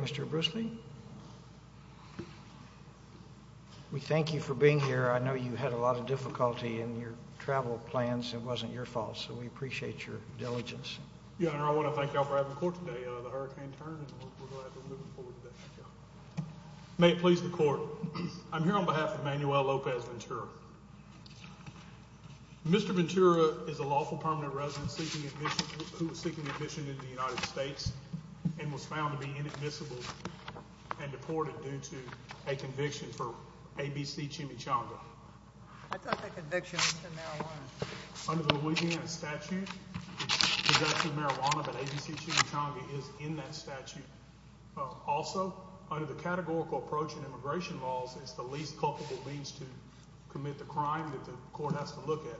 Mr. Bruce Lee, we thank you for being here. I know you had a lot of difficulty in your travel plans. It wasn't your fault, so we appreciate your diligence. I want to thank you all for having the court today. May it please the court, I'm here on behalf of Manuel Lopez Ventura. Mr. Ventura is a lawful permanent resident seeking admission in the United States and was found to be inadmissible and deported due to a conviction for ABC Chimichanga. I thought the conviction was for marijuana. Under the Louisiana statute, it's for marijuana, but ABC Chimichanga is in that statute. Also, under the categorical approach in immigration laws, it's the least culpable means to commit the crime that the court has to look at.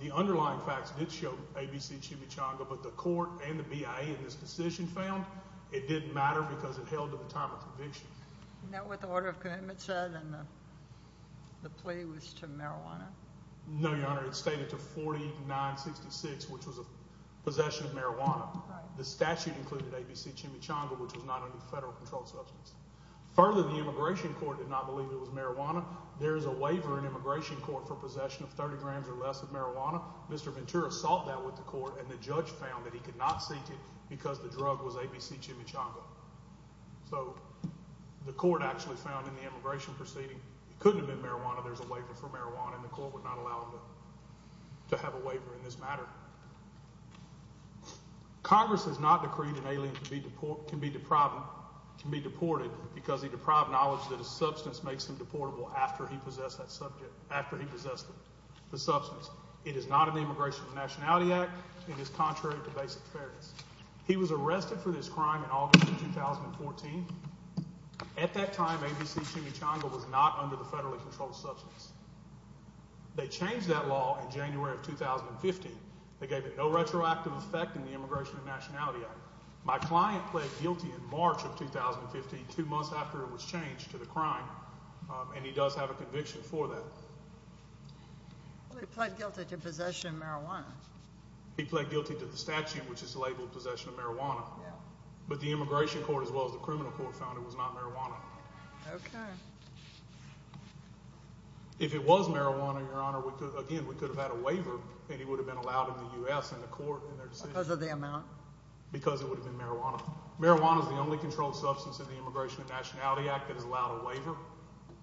The underlying facts did show ABC Chimichanga, but the court and the BIA in this decision found it didn't matter because it held to the time of conviction. Do you know what the order of commitment said and the plea was to marijuana? No, Your Honor. It stated to 4966, which was a possession of marijuana. The statute included ABC Chimichanga, which was not a federal controlled substance. Further, the immigration court did not believe it was marijuana. There is a waiver in immigration court for possession of 30 grams or less of marijuana. Mr. Ventura sought that with the court, and the judge found that he could not seek it because the drug was ABC Chimichanga. So the court actually found in the immigration proceeding it couldn't have been marijuana. There's a waiver for marijuana, and the court would not allow him to have a waiver in this matter. Congress has not decreed an alien can be deported because he deprived knowledge that a substance makes him deportable after he possessed the substance. It is not an Immigration and Nationality Act. It is contrary to basic fairness. He was arrested for this crime in August of 2014. At that time, ABC Chimichanga was not under the federally controlled substance. They changed that law in January of 2015. They gave it no retroactive effect in the Immigration and Nationality Act. My client pled guilty in March of 2015, two months after it was changed to the crime, and he does have a conviction for that. He pled guilty to possession of marijuana. He pled guilty to the statute, which is labeled possession of marijuana. But the Immigration Court, as well as the criminal court, found it was not marijuana. Okay. If it was marijuana, Your Honor, again, we could have had a waiver, and he would have been allowed in the U.S. in the court in their decision. Because of the amount? Because it would have been marijuana. Marijuana is the only controlled substance in the Immigration and Nationality Act that is allowed a waiver.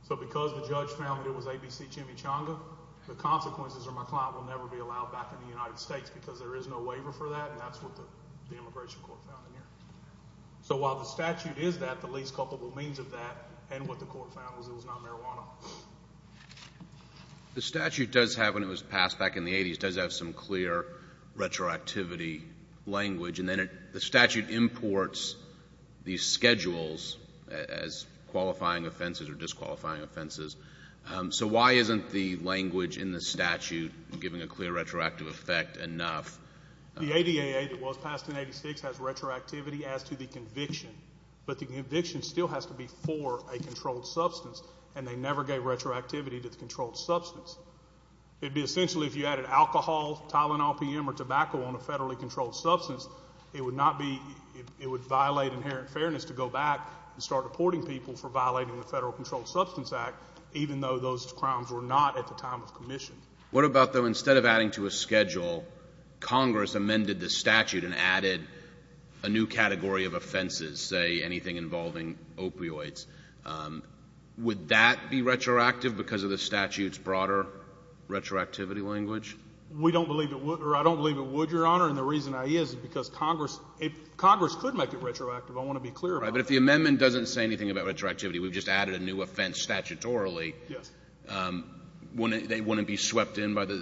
So because the judge found that it was ABC Chimichanga, the consequences are my client will never be allowed back in the United States because there is no waiver for that, and that's what the Immigration Court found in here. So while the statute is that, the least culpable means of that and what the court found was it was not marijuana. The statute does have, when it was passed back in the 80s, does have some clear retroactivity language. And then the statute imports these schedules as qualifying offenses or disqualifying offenses. So why isn't the language in the statute giving a clear retroactive effect enough? The ADAA that was passed in 86 has retroactivity as to the conviction. But the conviction still has to be for a controlled substance, and they never gave retroactivity to the controlled substance. It would be essentially if you added alcohol, Tylenol, P.M., or tobacco on a federally controlled substance, it would violate inherent fairness to go back and start deporting people for violating the Federal Controlled Substance Act, even though those crimes were not at the time of commission. What about, though, instead of adding to a schedule, Congress amended the statute and added a new category of offenses, say, anything involving opioids. Would that be retroactive because of the statute's broader retroactivity language? We don't believe it would, or I don't believe it would, Your Honor. And the reason is because Congress could make it retroactive. I want to be clear about that. But if the amendment doesn't say anything about retroactivity, we've just added a new offense statutorily. Yes. Wouldn't it be swept in by the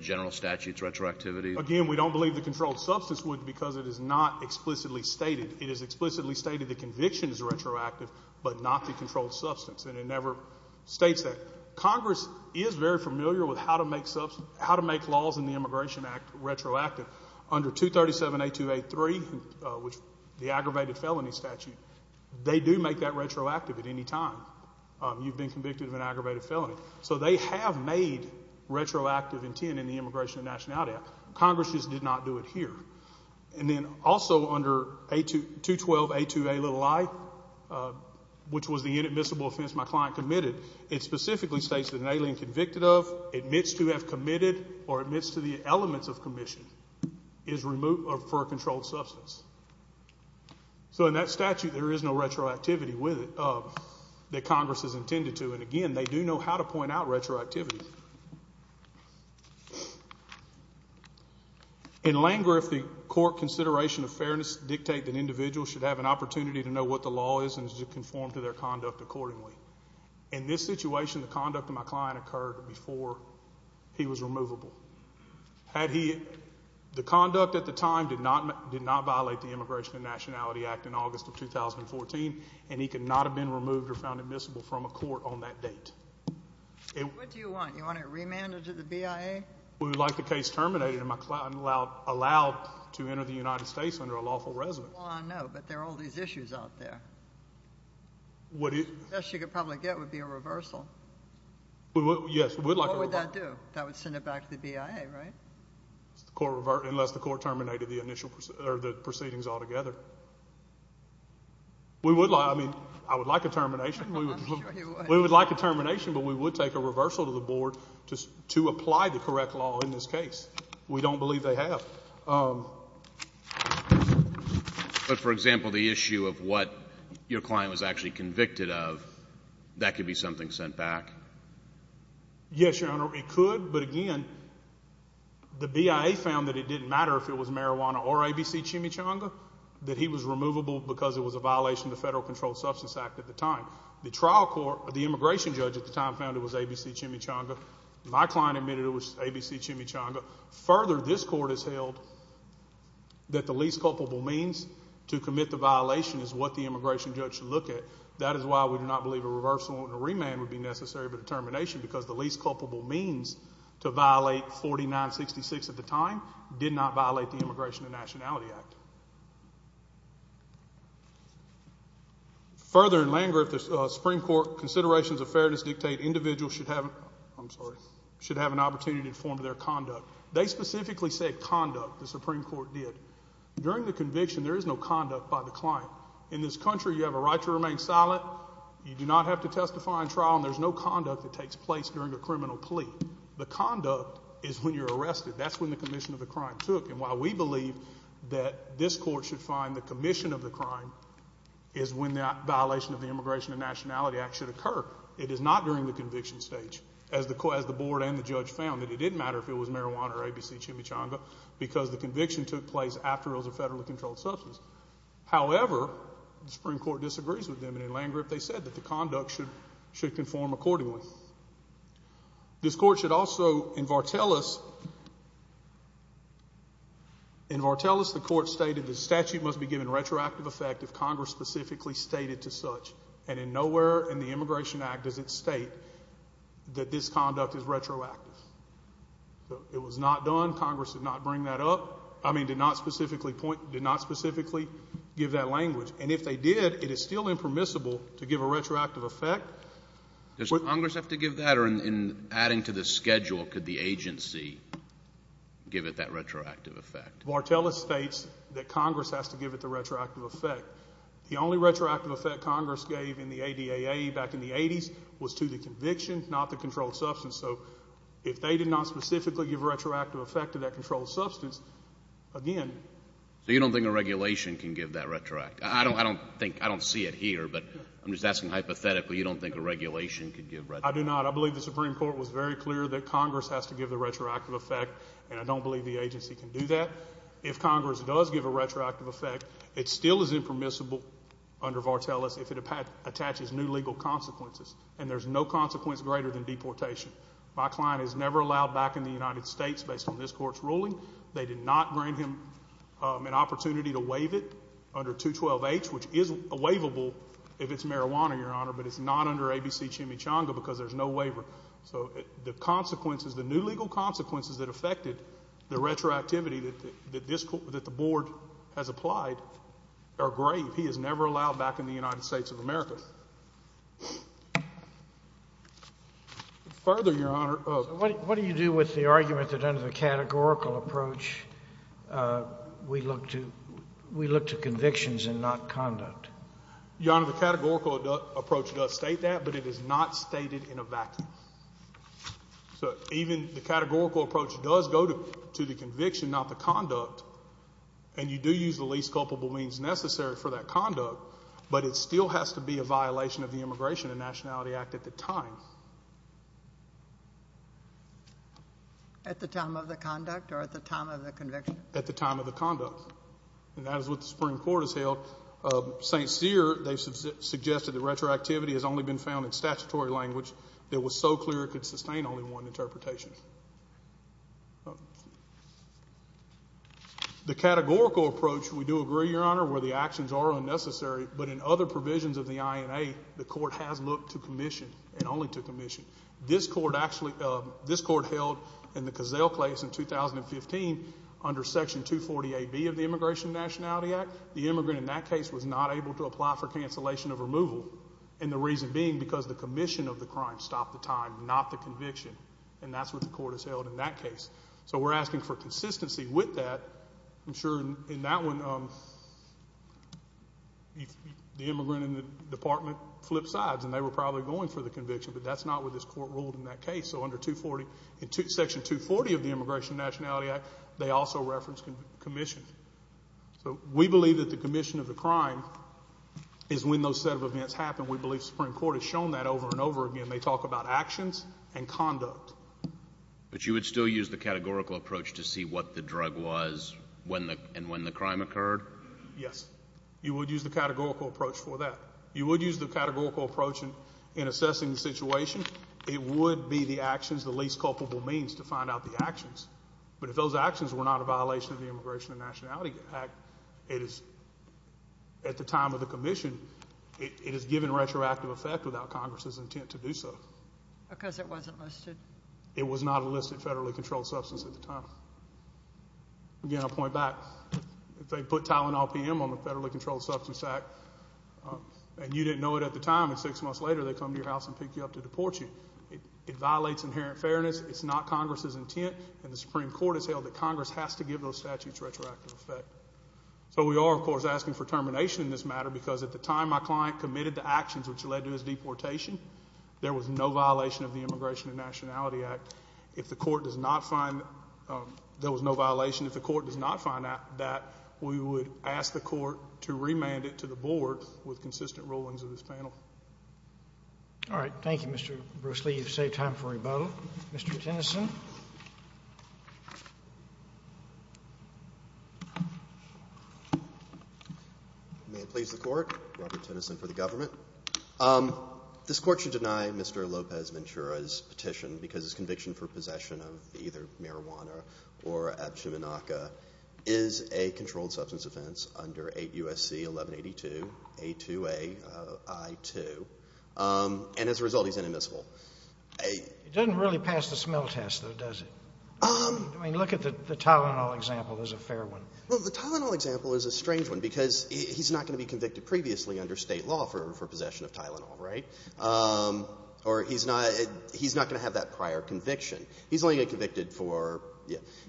general statute's retroactivity? Again, we don't believe the controlled substance would because it is not explicitly stated. It is explicitly stated the conviction is retroactive but not the controlled substance, and it never states that. Congress is very familiar with how to make laws in the Immigration Act retroactive. Under 237.8283, the aggravated felony statute, they do make that retroactive at any time. You've been convicted of an aggravated felony. So they have made retroactive intent in the Immigration and Nationality Act. Congress just did not do it here. And then also under 212.82a little i, which was the inadmissible offense my client committed, it specifically states that an alien convicted of, admits to have committed, or admits to the elements of commission is removed for a controlled substance. So in that statute, there is no retroactivity with it that Congress has intended to. And, again, they do know how to point out retroactivity. In Langreth, the court consideration of fairness dictate that individuals should have an opportunity to know what the law is and conform to their conduct accordingly. In this situation, the conduct of my client occurred before he was removable. The conduct at the time did not violate the Immigration and Nationality Act in August of 2014, and he could not have been removed or found admissible from a court on that date. What do you want? You want a remand into the BIA? We would like the case terminated and my client allowed to enter the United States under a lawful residence. No, but there are all these issues out there. The best you could probably get would be a reversal. Yes, we would like a reversal. What would that do? That would send it back to the BIA, right? Unless the court terminated the proceedings altogether. We would like, I mean, I would like a termination. We would like a termination, but we would take a reversal to the board to apply the correct law in this case. We don't believe they have. But, for example, the issue of what your client was actually convicted of, that could be something sent back? Yes, Your Honor, it could, but, again, the BIA found that it didn't matter if it was marijuana or ABC chimichanga. That he was removable because it was a violation of the Federal Controlled Substance Act at the time. The trial court, the immigration judge at the time, found it was ABC chimichanga. My client admitted it was ABC chimichanga. Further, this court has held that the least culpable means to commit the violation is what the immigration judge should look at. That is why we do not believe a reversal and a remand would be necessary but a termination because the least culpable means to violate 4966 at the time did not violate the Immigration and Nationality Act. Further, in Landgraf, the Supreme Court considerations of fairness dictate individuals should have an opportunity to inform their conduct. They specifically said conduct, the Supreme Court did. During the conviction, there is no conduct by the client. In this country, you have a right to remain silent. You do not have to testify in trial, and there's no conduct that takes place during a criminal plea. The conduct is when you're arrested. That's when the commission of the crime took, and while we believe that this court should find the commission of the crime is when that violation of the Immigration and Nationality Act should occur. It is not during the conviction stage. As the board and the judge found, it didn't matter if it was marijuana or ABC chimichanga because the conviction took place after it was a federally controlled substance. However, the Supreme Court disagrees with them, and in Landgraf, they said that the conduct should conform accordingly. This court should also, in Vartelis, the court stated the statute must be given retroactive effect if Congress specifically stated to such, and in nowhere in the Immigration Act does it state that this conduct is retroactive. It was not done. Congress did not bring that up. I mean, did not specifically point, did not specifically give that language, and if they did, it is still impermissible to give a retroactive effect. Does Congress have to give that, or in adding to the schedule, could the agency give it that retroactive effect? Vartelis states that Congress has to give it the retroactive effect. The only retroactive effect Congress gave in the ADAA back in the 80s was to the conviction, not the controlled substance. So if they did not specifically give retroactive effect to that controlled substance, again. So you don't think a regulation can give that retroactive effect? I don't think, I don't see it here, but I'm just asking hypothetically. You don't think a regulation could give retroactive effect? I do not. I believe the Supreme Court was very clear that Congress has to give the retroactive effect, and I don't believe the agency can do that. If Congress does give a retroactive effect, it still is impermissible under Vartelis if it attaches new legal consequences, and there's no consequence greater than deportation. My client is never allowed back in the United States based on this Court's ruling. They did not grant him an opportunity to waive it under 212H, which is waivable if it's marijuana, Your Honor, but it's not under ABC Chimichanga because there's no waiver. So the consequences, the new legal consequences that affected the retroactivity that the Board has applied are grave. He is never allowed back in the United States of America. Further, Your Honor, what do you do with the argument that under the categorical approach we look to convictions and not conduct? Your Honor, the categorical approach does state that, but it is not stated in a vacuum. So even the categorical approach does go to the conviction, not the conduct, and you do use the least culpable means necessary for that conduct, but it still has to be a violation of the Immigration and Nationality Act at the time. At the time of the conduct or at the time of the conviction? At the time of the conduct, and that is what the Supreme Court has held. St. Cyr, they've suggested that retroactivity has only been found in statutory language that was so clear it could sustain only one interpretation. The categorical approach, we do agree, Your Honor, where the actions are unnecessary, but in other provisions of the INA, the court has looked to commission and only to commission. This court held in the Cazelle case in 2015 under Section 240AB of the Immigration and Nationality Act. The immigrant in that case was not able to apply for cancellation of removal, and the reason being because the commission of the crime stopped the time, not the conviction, and that's what the court has held in that case. So we're asking for consistency with that. I'm sure in that one, the immigrant in the department flipped sides, and they were probably going for the conviction, but that's not what this court ruled in that case. So under Section 240 of the Immigration and Nationality Act, they also referenced commission. So we believe that the commission of the crime is when those set of events happen. We believe the Supreme Court has shown that over and over again. They talk about actions and conduct. But you would still use the categorical approach to see what the drug was and when the crime occurred? Yes. You would use the categorical approach for that. You would use the categorical approach in assessing the situation. It would be the actions, the least culpable means to find out the actions. But if those actions were not a violation of the Immigration and Nationality Act, it is at the time of the commission, it is given retroactive effect without Congress's intent to do so. Because it wasn't listed? It was not a listed federally controlled substance at the time. Again, I'll point back. If they put Tylenol PM on the Federally Controlled Substance Act, and you didn't know it at the time, and six months later they come to your house and pick you up to deport you, it violates inherent fairness. It's not Congress's intent, and the Supreme Court has held that Congress has to give those statutes retroactive effect. So we are, of course, asking for termination in this matter, because at the time my client committed the actions which led to his deportation, there was no violation of the Immigration and Nationality Act. If the Court does not find there was no violation, if the Court does not find that, we would ask the Court to remand it to the Board with consistent rulings of this panel. All right. Thank you, Mr. Bruce Lee. You've saved time for rebuttal. Mr. Tennyson. May it please the Court. Robert Tennyson for the government. This Court should deny Mr. Lopez-Mintura's petition, because his conviction for possession of either marijuana or abshamanaca is a controlled substance offense under 8 U.S.C. 1182, A2A I-2, and as a result he's inadmissible. It doesn't really pass the smell test, though, does it? I mean, look at the Tylenol example as a fair one. Well, the Tylenol example is a strange one, because he's not going to be convicted previously under State law for possession of Tylenol, right? Or he's not going to have that prior conviction. He's only going to get convicted for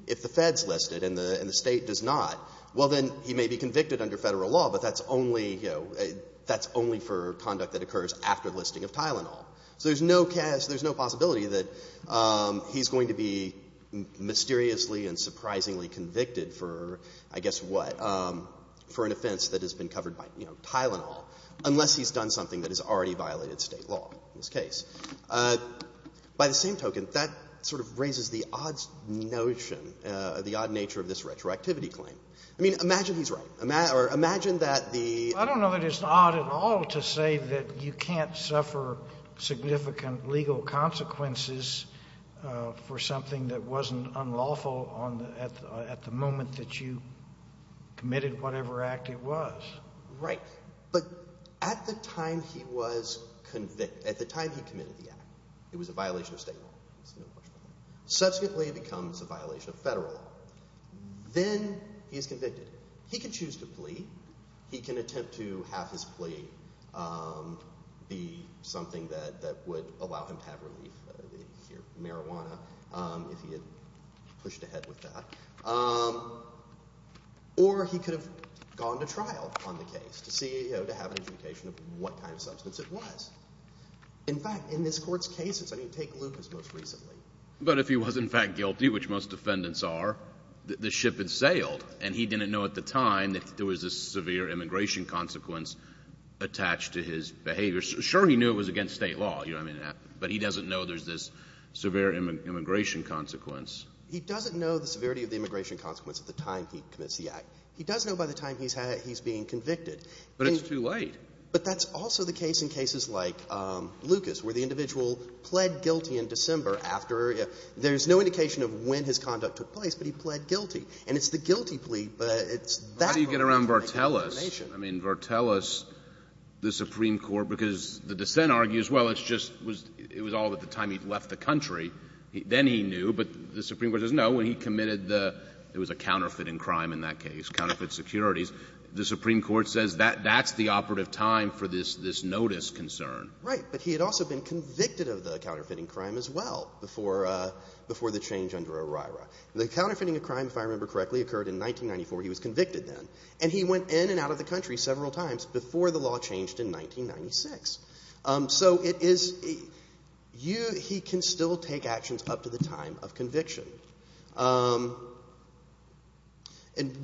if the Fed's listed and the State does not. Well, then he may be convicted under Federal law, but that's only, you know, that's only for conduct that occurs after listing of Tylenol. So there's no possibility that he's going to be mysteriously and surprisingly convicted for, I guess what, for an offense that has been covered by, you know, Tylenol, unless he's done something that has already violated State law in this case. By the same token, that sort of raises the odd notion, the odd nature of this retroactivity claim. I mean, imagine he's right, or imagine that the ---- I don't know that it's odd at all to say that you can't suffer significant legal consequences for something that wasn't unlawful at the moment that you committed whatever act it was. Right. But at the time he was convicted, at the time he committed the act, it was a violation of State law. Subsequently it becomes a violation of Federal law. Then he's convicted. He can choose to plead. He can attempt to have his plea be something that would allow him to have relief, marijuana, if he had pushed ahead with that. Or he could have gone to trial on the case to see, you know, to have an indication of what kind of substance it was. In fact, in this Court's cases, I mean, take Lucas most recently. But if he was in fact guilty, which most defendants are, the ship had sailed, and he didn't know at the time that there was a severe immigration consequence attached to his behavior. Sure, he knew it was against State law, you know what I mean? But he doesn't know there's this severe immigration consequence. He doesn't know the severity of the immigration consequence at the time he commits the act. He does know by the time he's being convicted. But it's too late. But that's also the case in cases like Lucas, where the individual pled guilty in December after there's no indication of when his conduct took place, but he pled guilty. And it's the guilty plea, but it's that moment to make a determination. How do you get around Vartelis? I mean, Vartelis, the Supreme Court, because the dissent argues, well, it's just was — it was all at the time he'd left the country. Then he knew. But the Supreme Court says, no, when he committed the — it was a counterfeiting crime in that case, counterfeit securities. The Supreme Court says that's the operative time for this notice concern. Right. But he had also been convicted of the counterfeiting crime as well before — before the change under OIRA. The counterfeiting crime, if I remember correctly, occurred in 1994. He was convicted then. And he went in and out of the country several times before the law changed in 1996. So it is — you — he can still take actions up to the time of conviction. And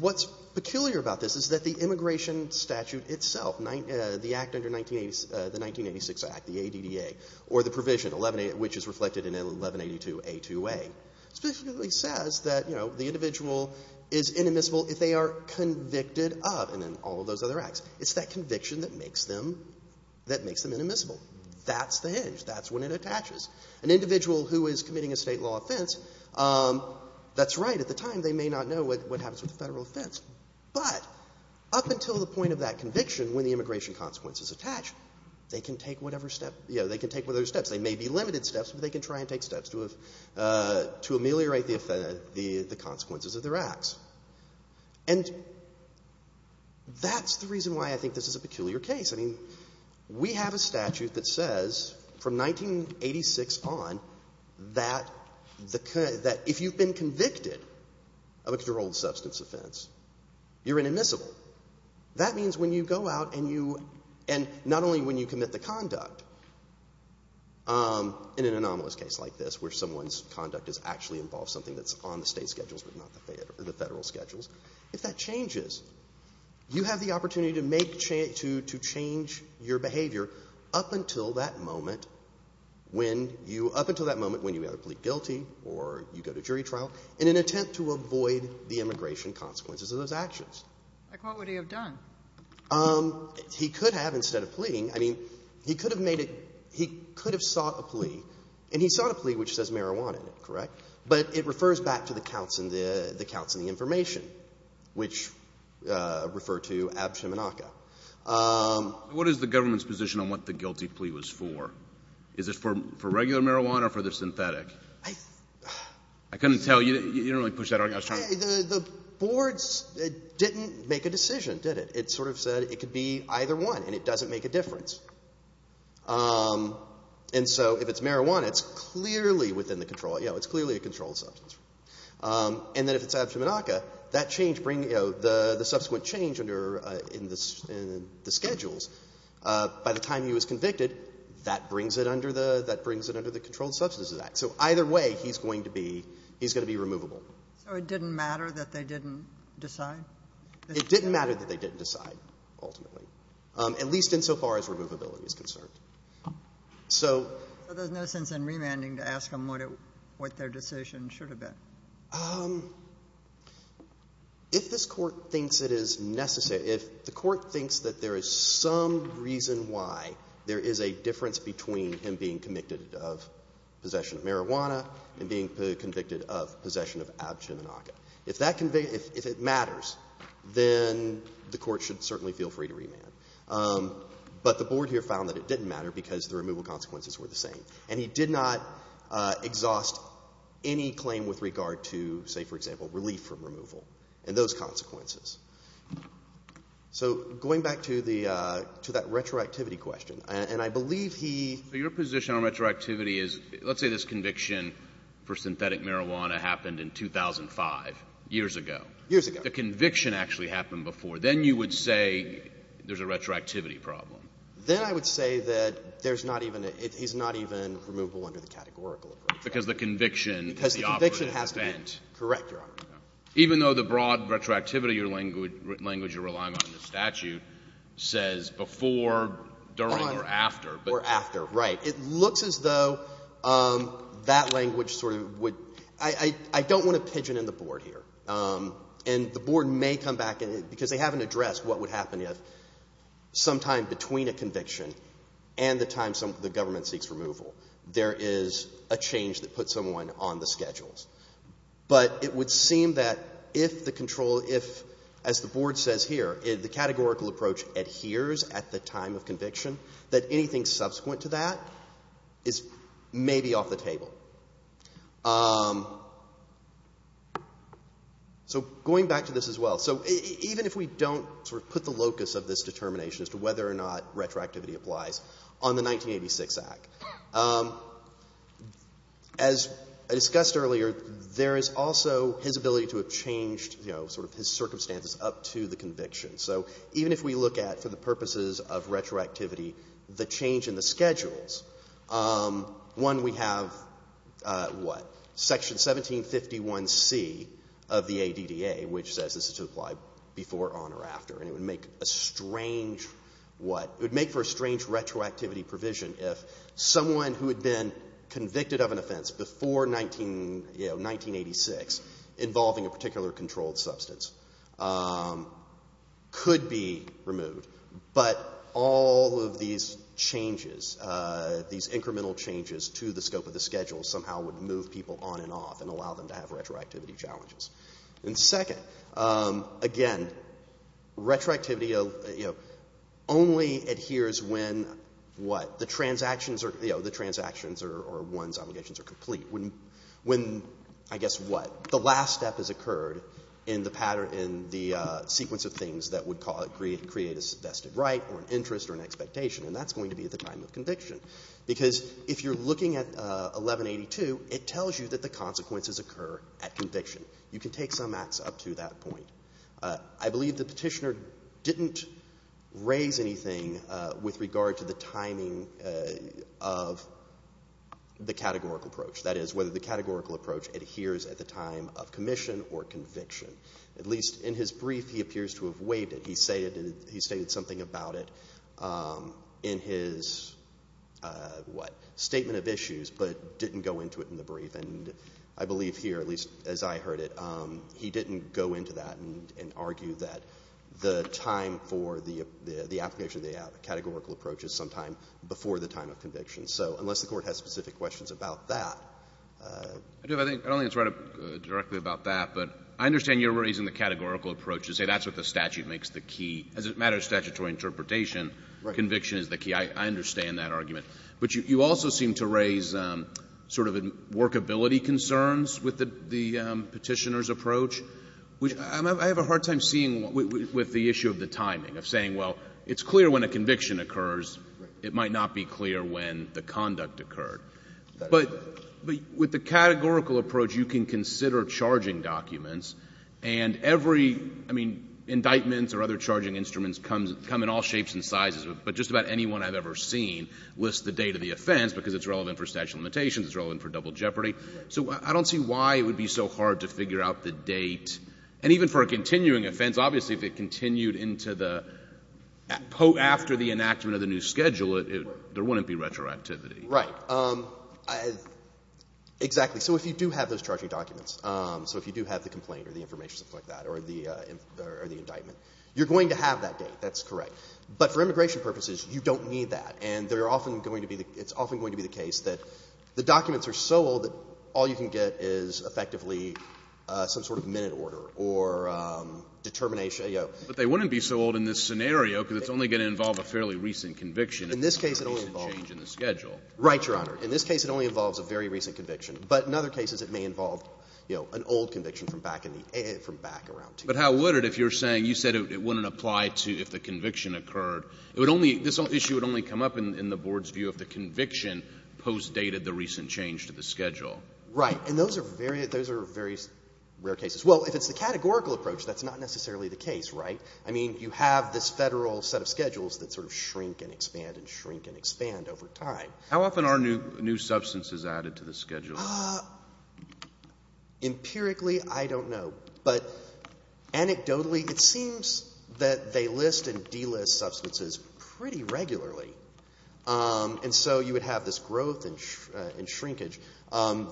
what's peculiar about this is that the immigration statute itself, the act under the 1986 act, the ADDA, or the provision, which is reflected in 1182A2A, specifically says that, you know, the individual is inadmissible if they are convicted of — and then all of those other acts. It's that conviction that makes them — that makes them inadmissible. That's the hinge. That's when it attaches. An individual who is committing a State law offense, that's right. At the time, they may not know what happens with a Federal offense. But up until the point of that conviction, when the immigration consequences attach, they can take whatever step — you know, they can take whatever steps. They may be limited steps, but they can try and take steps to ameliorate the consequences of their acts. And that's the reason why I think this is a peculiar case. I mean, we have a statute that says, from 1986 on, that if you've been convicted of a controlled substance offense, you're inadmissible. That means when you go out and you — and not only when you commit the conduct in an anomalous case like this, where someone's conduct has actually involved something that's on the State schedules but not the Federal schedules, if that changes, you have the opportunity to make — to change your behavior up until that moment when you — up until that moment when you either plead guilty or you go to jury trial in an attempt to avoid the immigration consequences of those actions. Like what would he have done? He could have, instead of pleading. I mean, he could have made it — he could have sought a plea. And he sought a plea which says marijuana in it, correct? But it refers back to the counts in the — the counts in the information, which refer to ab shemenaka. What is the government's position on what the guilty plea was for? Is it for regular marijuana or for the synthetic? I — I couldn't tell. You didn't really push that — The boards didn't make a decision, did it? It sort of said it could be either one, and it doesn't make a difference. And so if it's marijuana, it's clearly within the control — you know, it's clearly a controlled substance. And then if it's ab shemenaka, that change brings — you know, the subsequent change under — in the schedules, by the time he was convicted, that brings it under the — that brings it under the Controlled Substances Act. So either way, he's going to be — he's going to be removable. So it didn't matter that they didn't decide? It didn't matter that they didn't decide, ultimately, at least insofar as removability is concerned. So — So there's no sense in remanding to ask him what it — what their decision should have been? If this Court thinks it is necessary — if the Court thinks that there is some reason why there is a difference between him being convicted of possession of marijuana and being convicted of possession of ab shemenaka. If that — if it matters, then the Court should certainly feel free to remand. But the Board here found that it didn't matter because the removal consequences were the same. And he did not exhaust any claim with regard to, say, for example, relief from removal and those consequences. So going back to the — to that retroactivity question, and I believe he — I believe he was convicted for synthetic marijuana happened in 2005, years ago. Years ago. The conviction actually happened before. Then you would say there's a retroactivity problem. Then I would say that there's not even — he's not even removable under the categorical of retroactivity. Because the conviction is the operative event. Because the conviction has to be — correct, Your Honor. Even though the broad retroactivity language you're relying on in the statute says before, during, or after. Or after, right. It looks as though that language sort of would — I don't want to pigeon in the Board here. And the Board may come back and — because they haven't addressed what would happen if sometime between a conviction and the time the government seeks removal, there is a change that puts someone on the schedules. But it would seem that if the control — if, as the Board says here, that anything subsequent to that is maybe off the table. So going back to this as well. So even if we don't sort of put the locus of this determination as to whether or not retroactivity applies on the 1986 Act, as I discussed earlier, there is also his ability to have changed, you know, sort of his circumstances up to the conviction. So even if we look at, for the purposes of retroactivity, the change in the schedules, one, we have what? Section 1751c of the ADDA, which says this is to apply before, on, or after. And it would make a strange — what? It would make for a strange retroactivity provision if someone who had been convicted of an offense before 1986 involving a particular controlled substance could be removed. But all of these changes, these incremental changes to the scope of the schedules somehow would move people on and off and allow them to have retroactivity challenges. And second, again, retroactivity, you know, only adheres when what? The transactions or, you know, the transactions or one's obligations are complete. When, I guess, what? The last step has occurred in the pattern — in the sequence of things that would create a vested right or an interest or an expectation, and that's going to be at the time of conviction. Because if you're looking at 1182, it tells you that the consequences occur at conviction. You can take some acts up to that point. I believe the Petitioner didn't raise anything with regard to the timing of the categorical approach, that is, whether the categorical approach adheres at the time of commission or conviction. At least in his brief, he appears to have weighed it. He stated something about it in his, what, statement of issues, but didn't go into it in the brief. And I believe here, at least as I heard it, he didn't go into that and argue that the time for the application of the categorical approach is sometime before the time of conviction. So unless the Court has specific questions about that. I don't think it's right directly about that, but I understand you're raising the categorical approach to say that's what the statute makes the key. As it matters to statutory interpretation, conviction is the key. I understand that argument. But you also seem to raise sort of workability concerns with the Petitioner's approach, which I have a hard time seeing with the issue of the timing, of saying, well, it's clear when a conviction occurs. It might not be clear when the conduct occurred. But with the categorical approach, you can consider charging documents. And every, I mean, indictments or other charging instruments come in all shapes and sizes. I mean, it's the date of the offense because it's relevant for statute of limitations, it's relevant for double jeopardy. So I don't see why it would be so hard to figure out the date. And even for a continuing offense, obviously, if it continued into the, after the enactment of the new schedule, there wouldn't be retroactivity. Right. Exactly. So if you do have those charging documents, so if you do have the complaint or the information, something like that, or the indictment, you're going to have that date. That's correct. But for immigration purposes, you don't need that. And there are often going to be, it's often going to be the case that the documents are so old that all you can get is effectively some sort of minute order or determination. But they wouldn't be so old in this scenario because it's only going to involve a fairly recent conviction. In this case, it only involves. A change in the schedule. Right, Your Honor. In this case, it only involves a very recent conviction. But in other cases, it may involve an old conviction from back in the, from back around to. But how would it if you're saying, you said it wouldn't apply to if the conviction occurred. It would only, this issue would only come up in the Board's view if the conviction postdated the recent change to the schedule. Right. And those are very, those are very rare cases. Well, if it's the categorical approach, that's not necessarily the case, right? I mean, you have this Federal set of schedules that sort of shrink and expand and shrink and expand over time. How often are new substances added to the schedule? Empirically, I don't know. But anecdotally, it seems that they list and delist substances pretty regularly. And so you would have this growth and shrinkage.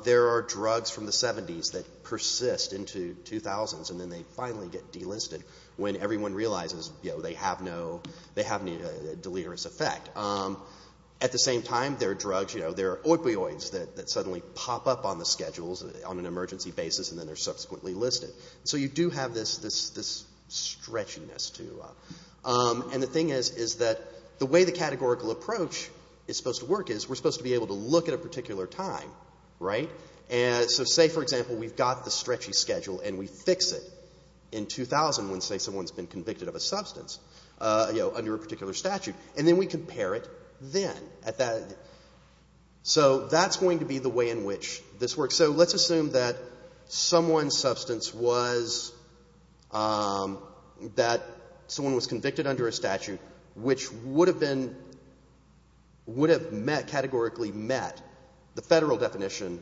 There are drugs from the 70s that persist into 2000s and then they finally get delisted when everyone realizes, you know, they have no, they have no deleterious effect. At the same time, there are drugs, you know, there are opioids that suddenly pop up on the schedules on an emergency basis and then they're subsequently listed. So you do have this stretchiness to it. And the thing is, is that the way the categorical approach is supposed to work is we're supposed to be able to look at a particular time, right? And so say, for example, we've got the stretchy schedule and we fix it in 2000 when, say, someone's been convicted of a substance, you know, under a particular statute. And then we compare it then at that. So that's going to be the way in which this works. So let's assume that someone's substance was, that someone was convicted under a statute which would have been, would have met, categorically met the federal definition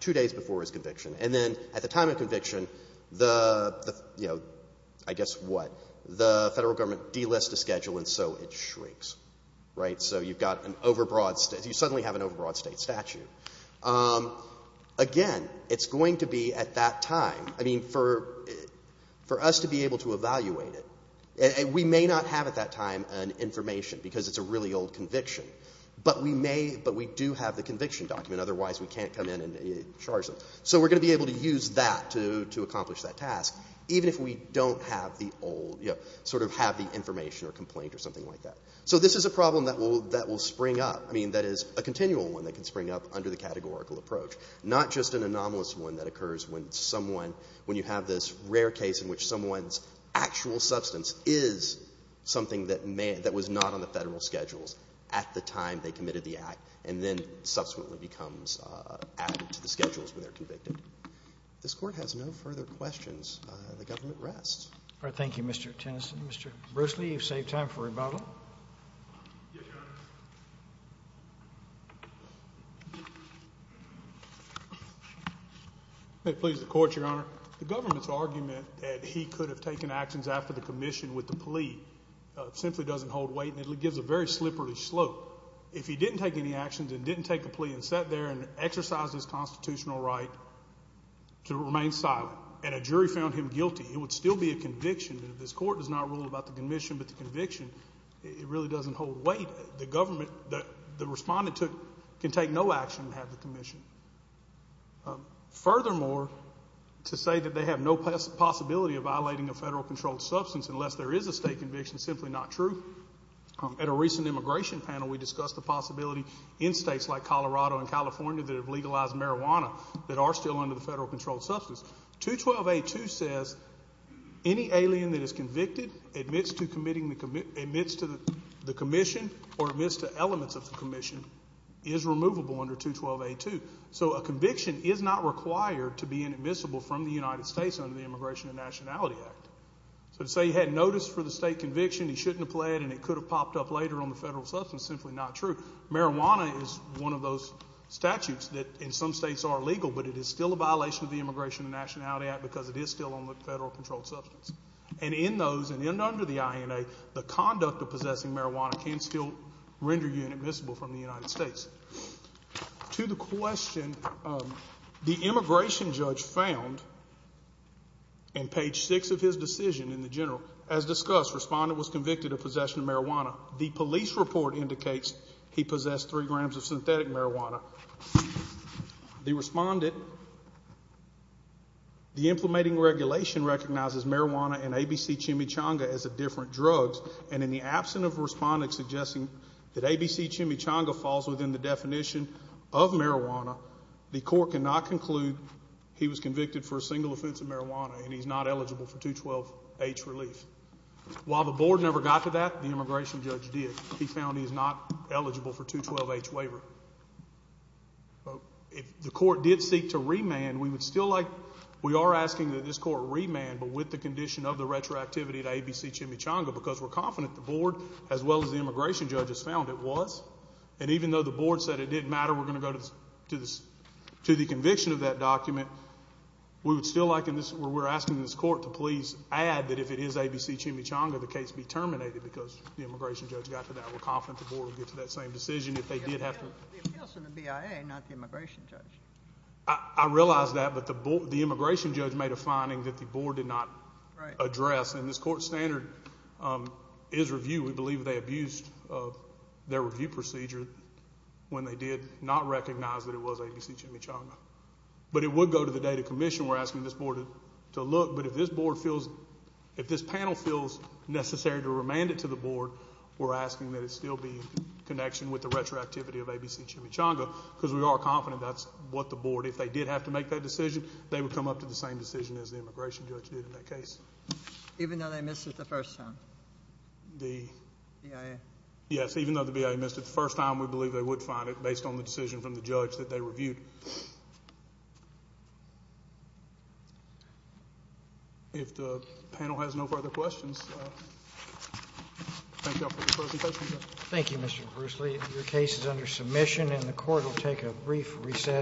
two days before his conviction. And then at the time of conviction, the, you know, I guess what, the federal government delists the schedule and so it shrinks, right? And so you've got an overbroad, you suddenly have an overbroad state statute. Again, it's going to be at that time. I mean, for us to be able to evaluate it, we may not have at that time an information because it's a really old conviction, but we may, but we do have the conviction document. Otherwise, we can't come in and charge them. So we're going to be able to use that to accomplish that task, even if we don't have the old, you know, sort of have the information or complaint or something like that. So this is a problem that will, that will spring up. I mean, that is a continual one that can spring up under the categorical approach, not just an anomalous one that occurs when someone, when you have this rare case in which someone's actual substance is something that may, that was not on the Federal schedules at the time they committed the act and then subsequently becomes added to the schedules when they're convicted. All right, thank you, Mr. Tennyson. Mr. Bruce Lee, you've saved time for rebuttal. Yes, Your Honor. May it please the Court, Your Honor. The government's argument that he could have taken actions after the commission with the plea simply doesn't hold weight and it gives a very slippery slope. If he didn't take any actions and didn't take a plea and sat there and exercised his constitutional right to remain silent and a jury found him guilty, it would still be a conviction. If this Court does not rule about the commission but the conviction, it really doesn't hold weight. The government, the respondent can take no action and have the commission. Furthermore, to say that they have no possibility of violating a Federal-controlled substance unless there is a state conviction is simply not true. At a recent immigration panel, we discussed the possibility in states like Colorado and California that have legalized marijuana that are still under the Federal-controlled substance. 212A2 says any alien that is convicted admits to the commission or admits to elements of the commission is removable under 212A2. So a conviction is not required to be inadmissible from the United States under the Immigration and Nationality Act. So to say he had notice for the state conviction, he shouldn't have pled, and it could have popped up later on the Federal substance is simply not true. Marijuana is one of those statutes that in some states are illegal, but it is still a violation of the Immigration and Nationality Act because it is still on the Federal-controlled substance. And in those and under the INA, the conduct of possessing marijuana can still render you inadmissible from the United States. To the question, the immigration judge found in page 6 of his decision in the general, as discussed, respondent was convicted of possession of marijuana. The police report indicates he possessed 3 grams of synthetic marijuana. The respondent, the implementing regulation recognizes marijuana and ABC chimichanga as a different drug, and in the absence of a respondent suggesting that ABC chimichanga falls within the definition of marijuana, the court cannot conclude he was convicted for a single offense of marijuana and he's not eligible for 212H relief. While the board never got to that, the immigration judge did. He found he's not eligible for 212H waiver. If the court did seek to remand, we would still like, we are asking that this court remand, but with the condition of the retroactivity to ABC chimichanga because we're confident the board, as well as the immigration judge, has found it was. And even though the board said it didn't matter, we're going to go to the conviction of that document, we would still like, we're asking this court to please add that if it is ABC chimichanga, the case be terminated because the immigration judge got to that. We're confident the board will get to that same decision if they did have to. It was the appeals from the BIA, not the immigration judge. I realize that, but the immigration judge made a finding that the board did not address. And this court standard is review. We believe they abused their review procedure when they did not recognize that it was ABC chimichanga. But it would go to the data commission. We're asking this board to look, but if this board feels, if this panel feels necessary to remand it to the board, we're asking that it still be in connection with the retroactivity of ABC chimichanga because we are confident that's what the board, if they did have to make that decision, they would come up to the same decision as the immigration judge did in that case. Even though they missed it the first time? The? BIA. Yes, even though the BIA missed it the first time, we believe they would find it based on the decision from the judge that they reviewed. If the panel has no further questions, thank you all for the presentation. Thank you, Mr. Bruce Lee. Your case is under submission and the court will take a brief recess.